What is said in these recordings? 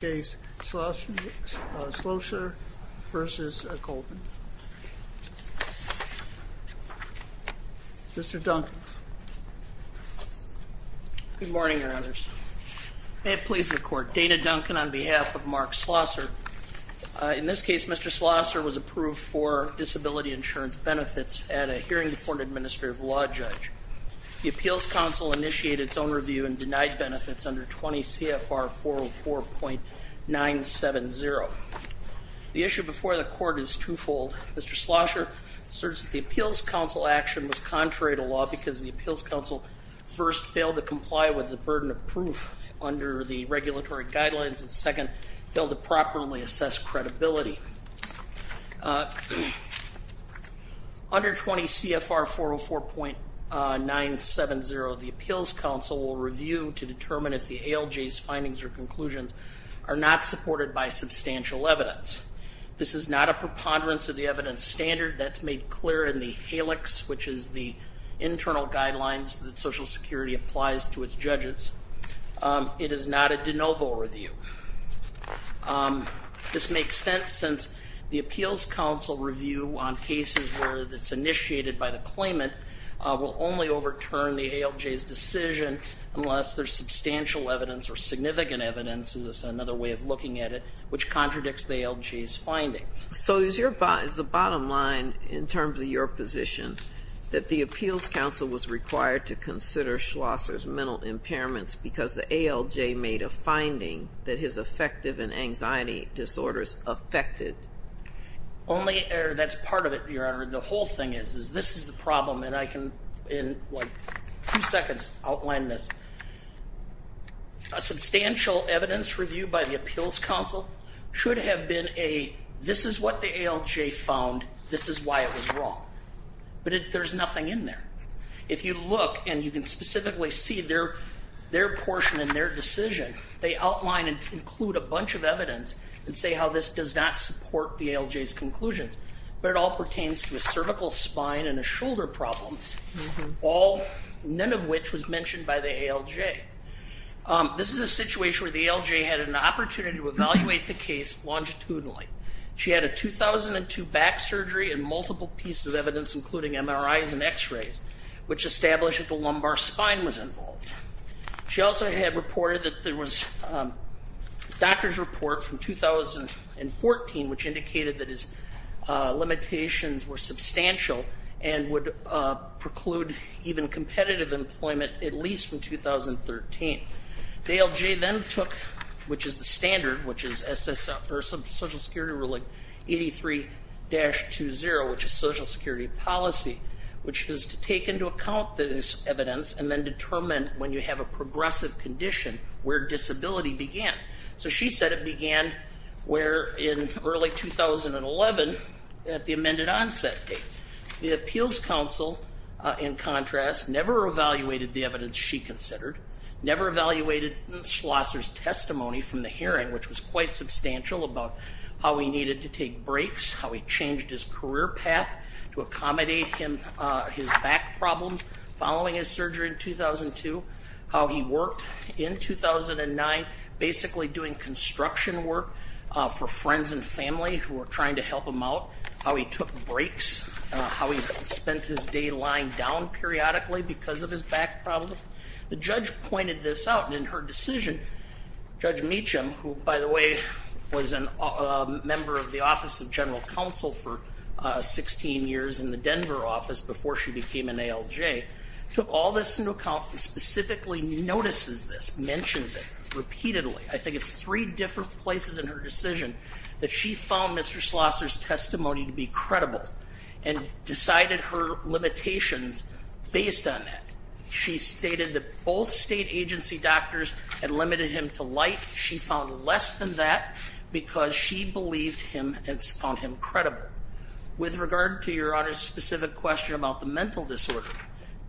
Good morning, Your Honors. May it please the Court, Dana Duncan on behalf of Mark Schloesser. In this case, Mr. Schloesser was approved for disability insurance benefits at a hearing before an administrative law judge. The Appeals Council initiated its own review and denied 970. The issue before the Court is twofold. Mr. Schloesser asserts that the Appeals Council action was contrary to law because the Appeals Council first failed to comply with the burden of proof under the regulatory guidelines, and second, failed to properly assess credibility. Under 20 CFR 404.970, the Appeals Council will review to determine if the ALJ's findings or are not supported by substantial evidence. This is not a preponderance of the evidence standard that's made clear in the HALEX, which is the internal guidelines that Social Security applies to its judges. It is not a de novo review. This makes sense since the Appeals Council review on cases where it's initiated by the claimant will only overturn the ALJ's decision unless there's another way of looking at it, which contradicts the ALJ's findings. So is the bottom line, in terms of your position, that the Appeals Council was required to consider Schloesser's mental impairments because the ALJ made a finding that his affective and anxiety disorders affected? Only, or that's part of it, Your Honor. The whole thing is, is this is the problem, and I can in, like, two seconds outline this. A substantial evidence review by the Appeals Council should have been a, this is what the ALJ found, this is why it was wrong. But there's nothing in there. If you look, and you can specifically see their, their portion in their decision, they outline and include a bunch of evidence and say how this does not support the ALJ's conclusions, but it all pertains to a cervical spine and a shoulder problems, all, none of which was mentioned by the ALJ. This is a situation where the ALJ had an opportunity to evaluate the case longitudinally. She had a 2002 back surgery and multiple pieces of evidence, including MRIs and x-rays, which established that the lumbar spine was involved. She also had reported that there was doctor's report from 2014, which indicated that his limitations were substantial and would preclude even competitive employment at least from 2013. The ALJ then took, which is the standard, which is Social Security Rule 83-20, which is Social Security Policy, which is to take into account this evidence and then determine when you have a progressive condition where disability began. So she said it began where, in early 2011, at the amended onset date. The Appeals Council, in contrast, never evaluated the evidence she considered, never evaluated Schlosser's testimony from the hearing, which was quite substantial about how he needed to take breaks, how he changed his career path to accommodate him, his back problems following his surgery in 2002, how he worked in 2009, basically doing construction work for friends and family who were trying to help him out, how he took breaks, how he spent his day lying down periodically because of his back problems. The judge pointed this out and in her decision, Judge Meacham, who by the way was a member of the Office of General Counsel for 16 years in the Denver office before she became an ALJ, took all this into account and specifically notices this, mentions it repeatedly. I think it's three different places in her decision that she found Mr. Schlosser's testimony to be credible and decided her limitations based on that. She stated that both state agency doctors had limited him to light. She found less than that because she believed him and found him credible. With regard to your Honor's specific question about the mental disorder,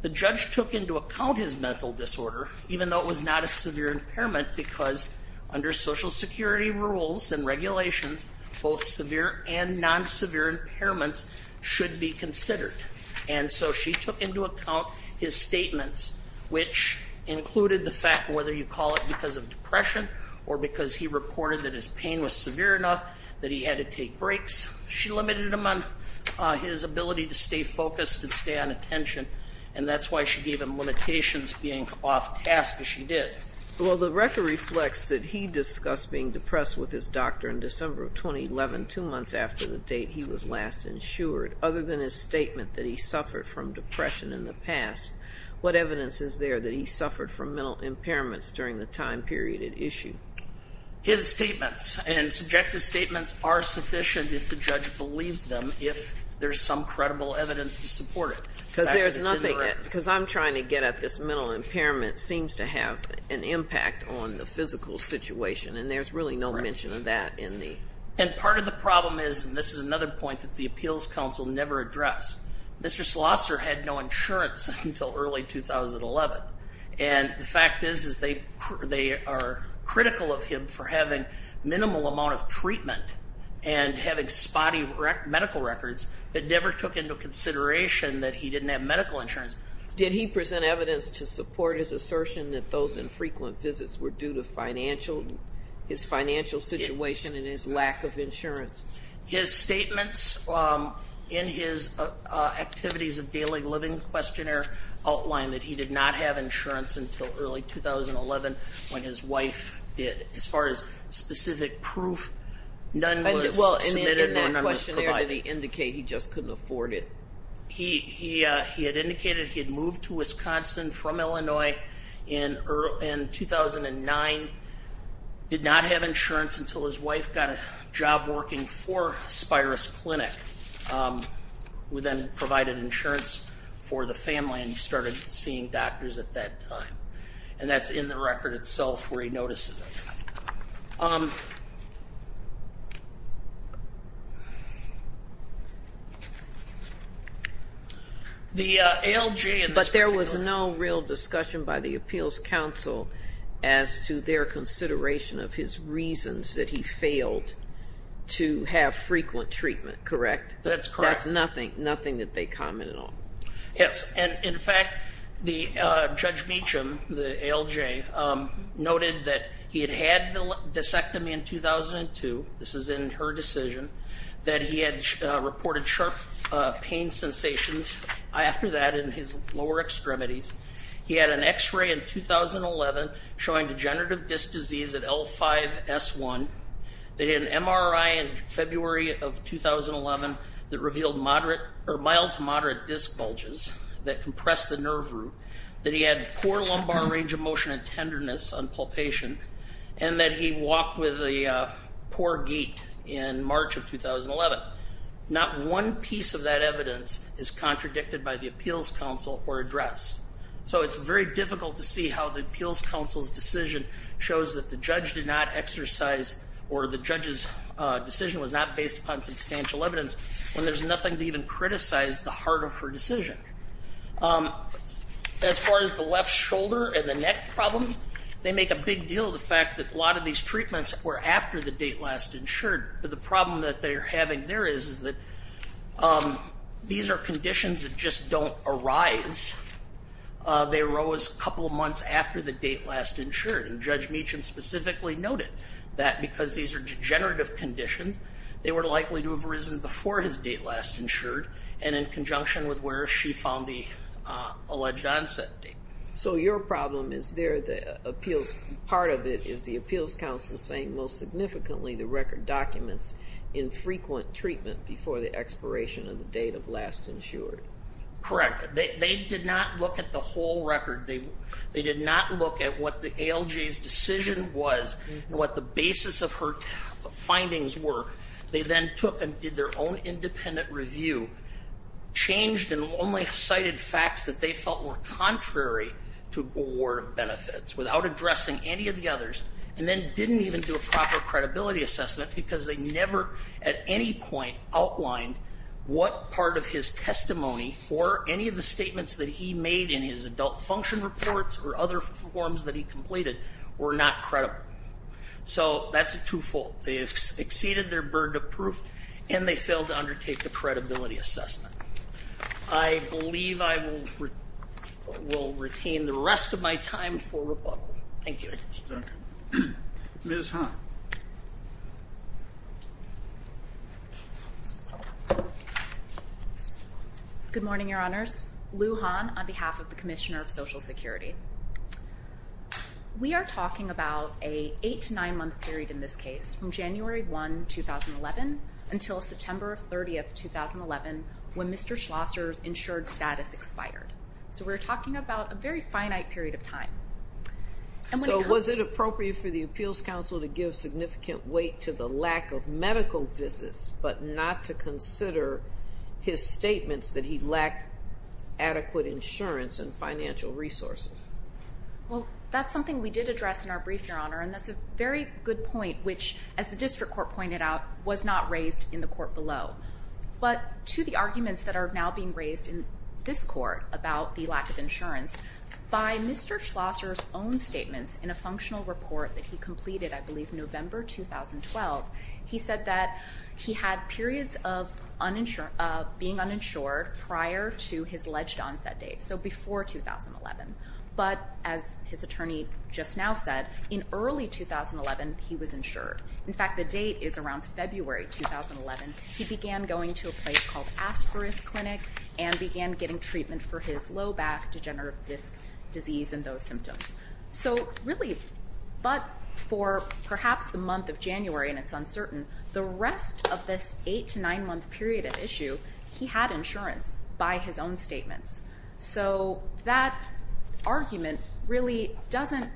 the judge took into account his mental disorder, even though it was not a severe impairment, because under Social Security rules and regulations, both severe and non-severe impairments should be because of depression or because he reported that his pain was severe enough that he had to take breaks. She limited him on his ability to stay focused and stay on attention and that's why she gave him limitations being off task as she did. Well, the record reflects that he discussed being depressed with his doctor in December of 2011, two months after the date he was last insured. Other than his statement that he suffered from depression in the past, what evidence is there that he suffered from mental impairments during the time period at issue? His statements and subjective statements are sufficient if the judge believes them, if there's some credible evidence to support it. Because there's nothing, because I'm trying to get at this mental impairment seems to have an impact on the physical situation and there's really no mention of that in the... And part of the problem is, and this is another point that the Appeals Council never addressed, Mr. Schlosser had no insurance until early 2011. And the fact is they are critical of him for having minimal amount of treatment and having spotty medical records that never took into consideration that he didn't have medical insurance. Did he present evidence to support his assertion that those infrequent visits were due to his financial situation and his lack of activities of daily living? Questionnaire outlined that he did not have insurance until early 2011 when his wife did. As far as specific proof, none was... And in that questionnaire, did he indicate he just couldn't afford it? He had indicated he had moved to Wisconsin from Illinois in 2009, did not have insurance until his wife got a job working for Spirus Clinic, who then provided insurance for the family and he started seeing doctors at that time. And that's in the record itself where he notices it. The ALJ... But there was no real discussion by the Appeals Council as to their consideration of his reasons that he failed to have frequent treatment, correct? That's correct. That's nothing that they commented on? Yes. And in fact, Judge Meacham, the ALJ, noted that he had had the disectomy in 2002, this is in her decision, that he had reported sharp pain sensations after that in his lower extremities. He had an x-ray in 2011 showing degenerative disc disease at L5-S1. They did an that compressed the nerve root, that he had poor lumbar range of motion and tenderness on palpation, and that he walked with a poor gait in March of 2011. Not one piece of that evidence is contradicted by the Appeals Council or addressed. So it's very difficult to see how the Appeals Council's decision shows that the judge did not exercise or the judge's decision was not based upon substantial evidence when there's nothing to even criticize the heart of her decision. As far as the left shoulder and the neck problems, they make a big deal of the fact that a lot of these treatments were after the date last insured. But the problem that they're having there is that these are conditions that just don't arise. They arose a couple of months after the date last insured. And Judge Meacham specifically noted that because these are degenerative conditions, they were likely to have arisen before his date last insured and in conjunction with where she found the alleged onset date. So your problem is there the Appeals, part of it is the Appeals Council saying most significantly the record documents infrequent treatment before the expiration of the date of last insured. Correct. They did not look at the whole record. They did not look at what the ALJ's decision was and what the basis of her findings were. They then took and did their own independent review, changed and only cited facts that they felt were contrary to award of benefits without addressing any of the others, and then didn't even do a proper credibility assessment because they never at any point outlined what part of his testimony or any of the statements that he made in his function reports or other forms that he completed were not credible. So that's a twofold. They exceeded their burden of proof and they failed to undertake the credibility assessment. I believe I will retain the rest of my time for rebuttal. Thank you. Ms. Hahn. Good morning, Your Honors. Lou Hahn on behalf of the Commissioner of Social Security. We are talking about a eight to nine-month period in this case from January 1, 2011 until September 30, 2011 when Mr. Schlosser's insured status expired. So we're talking about a very finite period of time. So was it appropriate for the appeals counsel to give significant weight to the lack of medical visits but not to consider his statements that he lacked adequate insurance and financial resources? Well, that's something we did address in our brief, Your Honor, and that's a very good point, which as the district court pointed out, was not raised in the court below. But to the arguments that are now being raised in this court about the lack of insurance, by Mr. Schlosser's own statements in a functional report that he completed, I believe, November 2012, he said that he had periods of being uninsured prior to his alleged onset date, so before 2011. But as his attorney just now said, in early 2011, he was insured. In fact, the date is around February 2011. He began going to a place called Asperger's Clinic and began getting treatment for his low back degenerative disc disease and those symptoms. So really, but for perhaps the month of January, and it's uncertain, the rest of this eight to nine-month period of issue, he had insurance by his own statements. So that argument really doesn't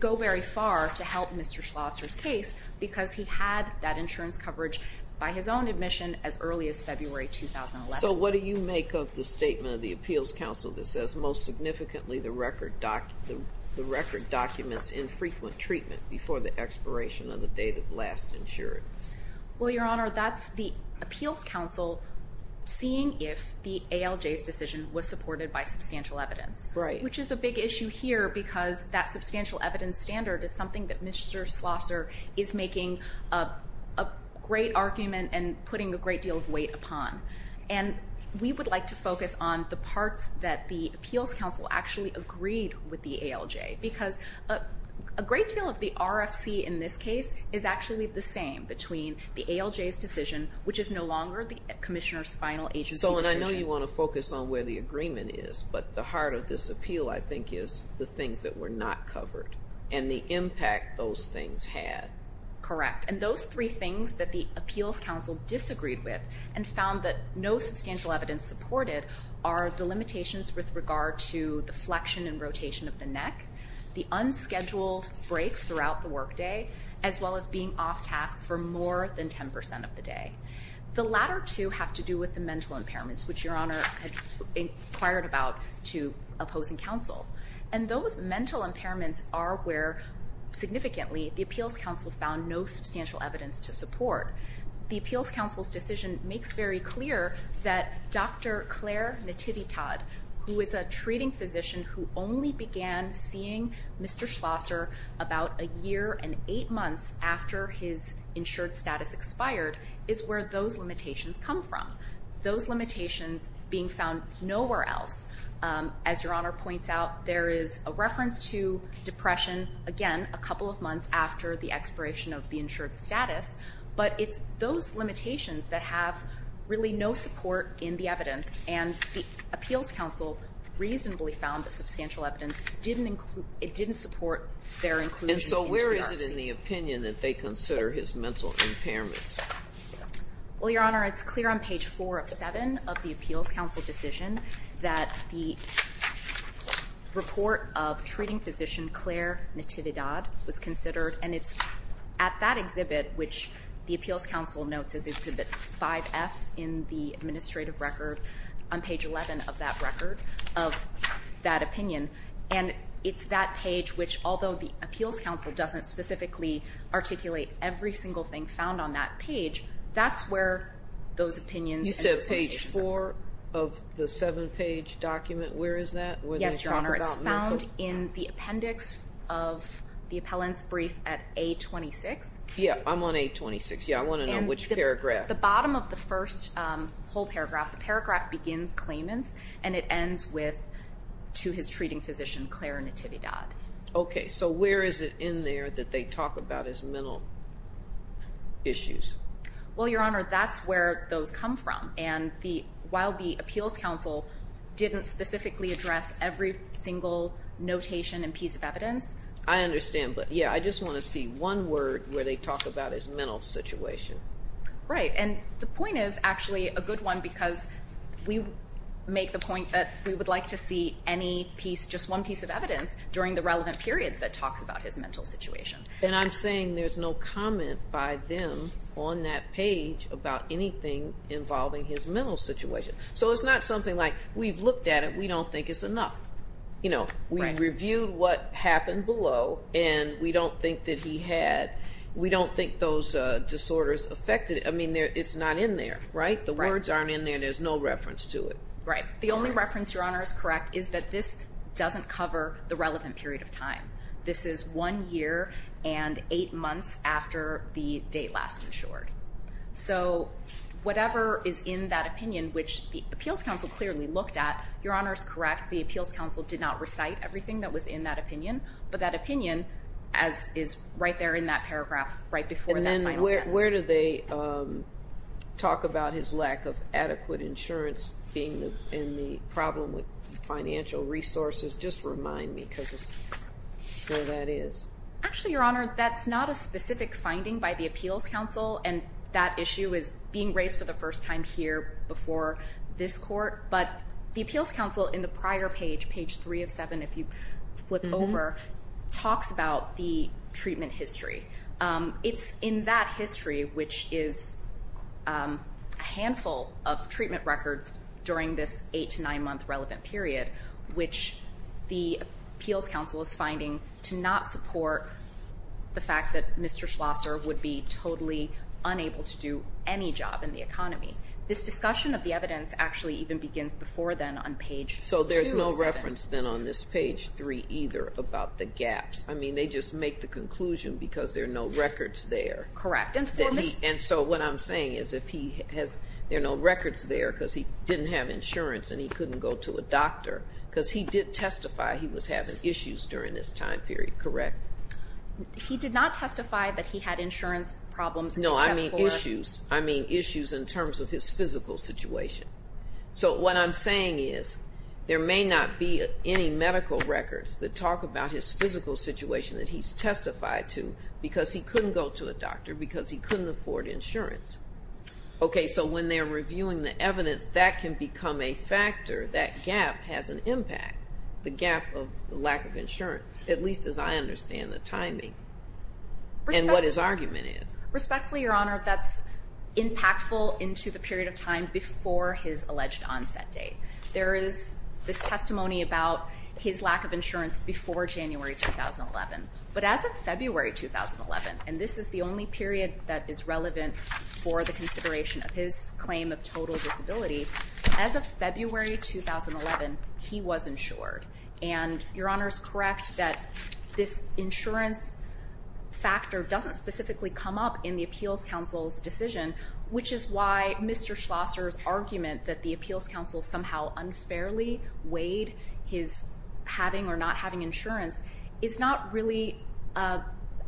go very far to help Mr. Schlosser's case because he had that insurance coverage by his own admission as early as February 2011. So what do you make of the statement of the Appeals Council that says, most significantly, the record documents infrequent treatment before the expiration of the date of last insurance? Well, Your Honor, that's the Appeals Council seeing if the ALJ's decision was supported by substantial evidence. Right. Which is a big issue here because that substantial evidence standard is something that Mr. Schlosser is making a great argument and putting a great deal of weight upon. And we would like to focus on the parts that the Appeals Council actually agreed with the ALJ because a great deal of the RFC in this case is actually the same between the ALJ's decision, which is no longer the Commissioner's final agency decision. So, and I know you want to focus on where the agreement is, but the heart of this appeal, I think, is the things that were not covered and the impact those things had. Correct. And those three things that the Appeals Council disagreed with and found that no substantial evidence supported are the limitations with regard to the flexion and rotation of the neck, the unscheduled breaks throughout the workday, as well as being off task for more than 10% of the day. The latter two have to do with the mental impairments, which Your Honor inquired about to opposing counsel. And those mental impairments are where significantly the Appeals Council found no substantial evidence to support. The Appeals Council's decision makes very clear that Dr. Claire Nativitad, who is a treating physician who only began seeing Mr. Schlosser about a year and eight months after his insured status expired, is where those limitations come from. Those limitations being found nowhere else. As Your Honor points out, there is a reference to depression, again, a couple of months after the expiration of the insured status, but it's those limitations that have really no support in the evidence. And the Appeals Council reasonably found that substantial evidence didn't include, it didn't support their inclusion. And so where is it that they consider his mental impairments? Well, Your Honor, it's clear on page four of seven of the Appeals Council decision that the report of treating physician Claire Natividad was considered. And it's at that exhibit, which the Appeals Council notes as exhibit 5F in the administrative record on page 11 of that record of that opinion. And it's that page, which although the Appeals Council doesn't specifically articulate every single thing found on that page, that's where those opinions and expectations are. You said page four of the seven page document, where is that? Yes, Your Honor. It's found in the appendix of the appellant's brief at A-26. Yeah, I'm on A-26. Yeah, I want to know which paragraph. The bottom of the first whole paragraph, the paragraph begins claimants and it ends with, to his treating physician Claire Natividad. Okay, so where is it in there that they talk about his mental issues? Well, Your Honor, that's where those come from. And while the Appeals Council didn't specifically address every single notation and piece of evidence. I understand, but yeah, I just want to see one word where they talk about his mental situation. Right, and the point is actually a good one because we make the point that we would like to see any piece, just one piece of evidence during the relevant period that talks about his mental situation. And I'm saying there's no comment by them on that page about anything involving his mental situation. So it's not something like, we've looked at it, we don't think it's enough. You know, we reviewed what happened below and we don't think that he had, we don't think those disorders affected it. I mean, it's not in there, right? The words aren't in there. There's no reference to it. Right. The only reference, Your Honor is correct, is that this doesn't cover the relevant period of time. This is one year and eight months after the date last insured. So whatever is in that opinion, which the Appeals Council clearly looked at, Your Honor is correct, the Appeals Council did not recite everything that was in that opinion, but that opinion is right there in that paragraph, right before that final sentence. Where do they talk about his lack of adequate insurance and the problem with financial resources? Just remind me because it's where that is. Actually, Your Honor, that's not a specific finding by the Appeals Council. And that issue is being raised for the first time here before this court. But the Appeals Council in the prior page, page three of seven, if you flip over, talks about the treatment history. It's in that history, which is a handful of treatment records during this eight to nine month relevant period, which the Appeals Council is finding to not support the fact that Mr. Schlosser would be totally unable to do any job in the economy. This discussion of the evidence actually even begins before then on page two of seven. Then on this page three either about the gaps. I mean, they just make the conclusion because there are no records there. Correct. And so what I'm saying is if he has, there are no records there because he didn't have insurance and he couldn't go to a doctor because he did testify he was having issues during this time period, correct? He did not testify that he had insurance problems. No, I mean issues. I mean issues in terms of his physical situation. So what I'm saying is there may not be any medical records that talk about his physical situation that he's testified to because he couldn't go to a doctor, because he couldn't afford insurance. Okay, so when they're reviewing the evidence, that can become a factor. That gap has an impact, the gap of lack of insurance, at least as I understand the timing and what his argument is. Respectfully, Your Honor, that's impactful into the period of time before his alleged onset date. There is this testimony about his lack of insurance before January 2011. But as of February 2011, and this is the only period that is relevant for the consideration of his claim of total disability, as of February 2011, he was insured. And Your Honor is correct that this insurance factor doesn't specifically come up in the Appeals Council's decision, which is why Mr. Schlosser's argument that the Appeals Council somehow unfairly weighed his having or not having insurance is not really an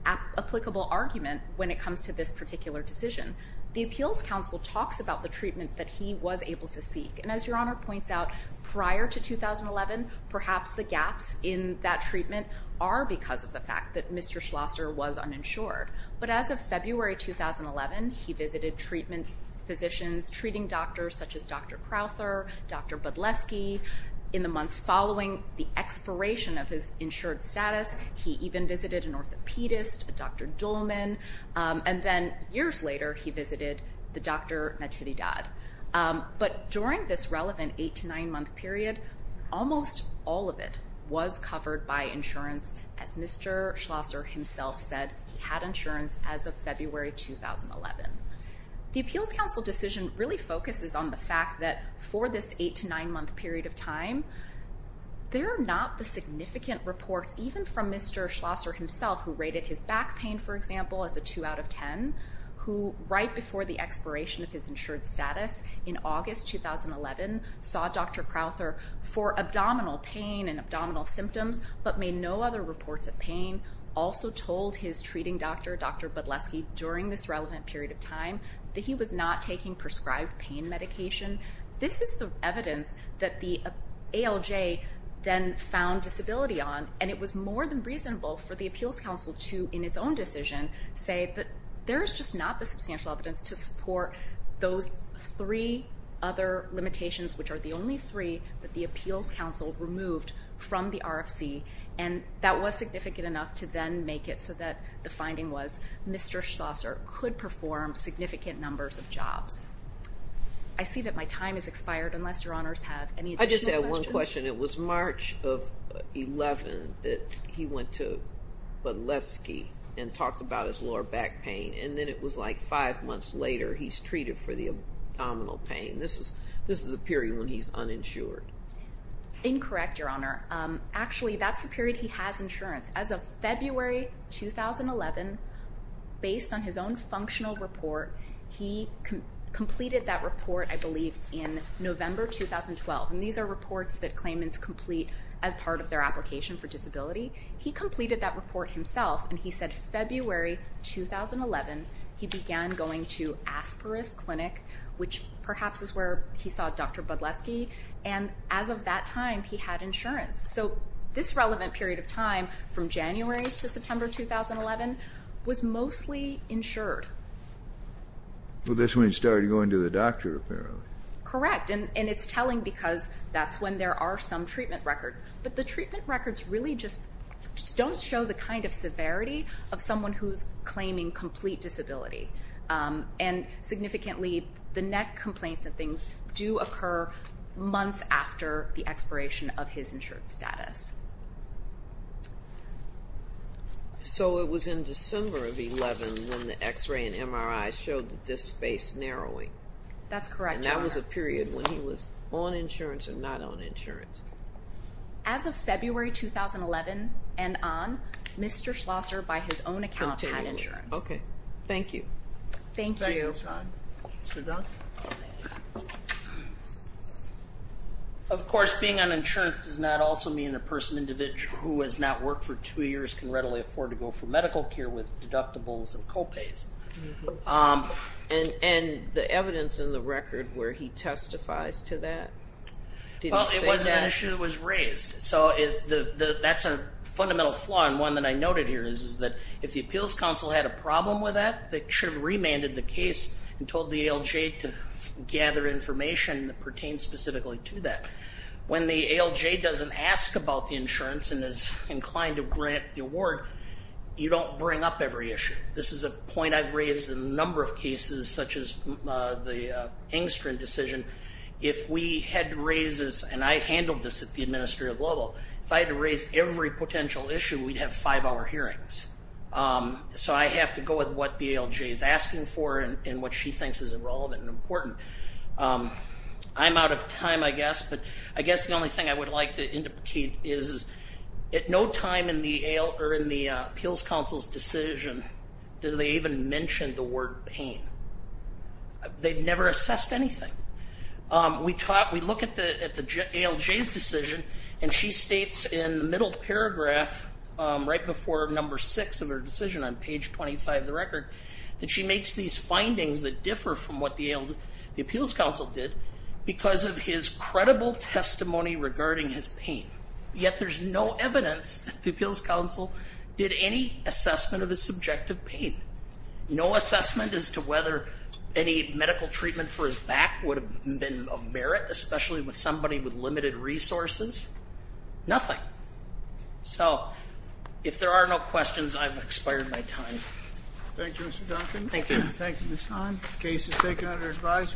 applicable argument when it comes to this particular decision. The Appeals Council talks about the treatment that he was able to seek. And as Your Honor points out, prior to 2011, perhaps the gaps in that treatment are because of the fact that Mr. Schlosser was uninsured. But as of February 2011, he visited treatment physicians, treating doctors such as Dr. Crowther, Dr. Budleski. In the months following the expiration of his insured status, he even visited an orthopedist, a Dr. Duhlman. And then years later, he visited the Dr. Natividade. But during this relevant eight to nine month period, almost all of it was covered by insurance. As Mr. Schlosser himself said, he had insurance as of February 2011. The Appeals Council decision really focuses on the fact that for this eight to nine month period of time, there are not the significant reports, even from Mr. Schlosser himself, who rated his expiration of his insured status in August 2011, saw Dr. Crowther for abdominal pain and abdominal symptoms, but made no other reports of pain. Also told his treating doctor, Dr. Budleski, during this relevant period of time that he was not taking prescribed pain medication. This is the evidence that the ALJ then found disability on. And it was more than reasonable for the Appeals Council to, in its own decision, say that there's just not the substantial evidence to support those three other limitations, which are the only three that the Appeals Council removed from the RFC. And that was significant enough to then make it so that the finding was Mr. Schlosser could perform significant numbers of jobs. I see that my time has expired unless your honors have any additional questions. I just have one question. It was March of 11 that he went to Budleski and talked about his lower back pain. And then it was like five months later, he's treated for the abdominal pain. This is the period when he's uninsured. Incorrect, your honor. Actually, that's the period he has insurance. As of February 2011, based on his own functional report, he completed that report, I believe, in November 2012. And these are reports that claimants complete as part of their application for disability. He completed that report himself. And he said February 2011, he began going to Asperis Clinic, which perhaps is where he saw Dr. Budleski. And as of that time, he had insurance. So this relevant period of time, from January to September 2011, was mostly insured. Well, that's when he started going to the doctor, apparently. Correct. And it's telling because that's when there are some treatment records. But the treatment records really just don't show the kind of severity of someone who's claiming complete disability. And significantly, the neck complaints and things do occur months after the expiration of his insured status. So it was in December of 11 when the x-ray and MRI showed the disc narrowing. That's correct. And that was a period when he was on insurance and not on insurance. As of February 2011 and on, Mr. Schlosser, by his own account, had insurance. Okay. Thank you. Thank you. Of course, being on insurance does not also mean a person who has not worked for two years can end the evidence in the record where he testifies to that. Well, it was an issue that was raised. So that's a fundamental flaw. And one that I noted here is that if the Appeals Council had a problem with that, they should have remanded the case and told the ALJ to gather information that pertains specifically to that. When the ALJ doesn't ask about the insurance and is inclined to grant the award, you don't bring up every issue. This is a number of cases such as the Engstrom decision. If we had to raise this, and I handled this at the administrative level, if I had to raise every potential issue, we'd have five-hour hearings. So I have to go with what the ALJ is asking for and what she thinks is relevant and important. I'm out of time, I guess, but I guess the only thing I would like to indicate is, at no time in the Appeals Council's decision do they even mention the word pain. They've never assessed anything. We look at the ALJ's decision and she states in the middle paragraph, right before number six of her decision on page 25 of the record, that she makes these findings that differ from what the Appeals Council did because of his credible testimony regarding his pain. Yet there's no evidence that the Appeals Council did any assessment of his subjective pain. No assessment as to whether any medical treatment for his back would have been of merit, especially with somebody with limited resources. Nothing. So if there are no questions, I've expired my time. Thank you, Mr. Duncan. Thank you. Thank you, Ms. Hahn. Case is taken under advisement.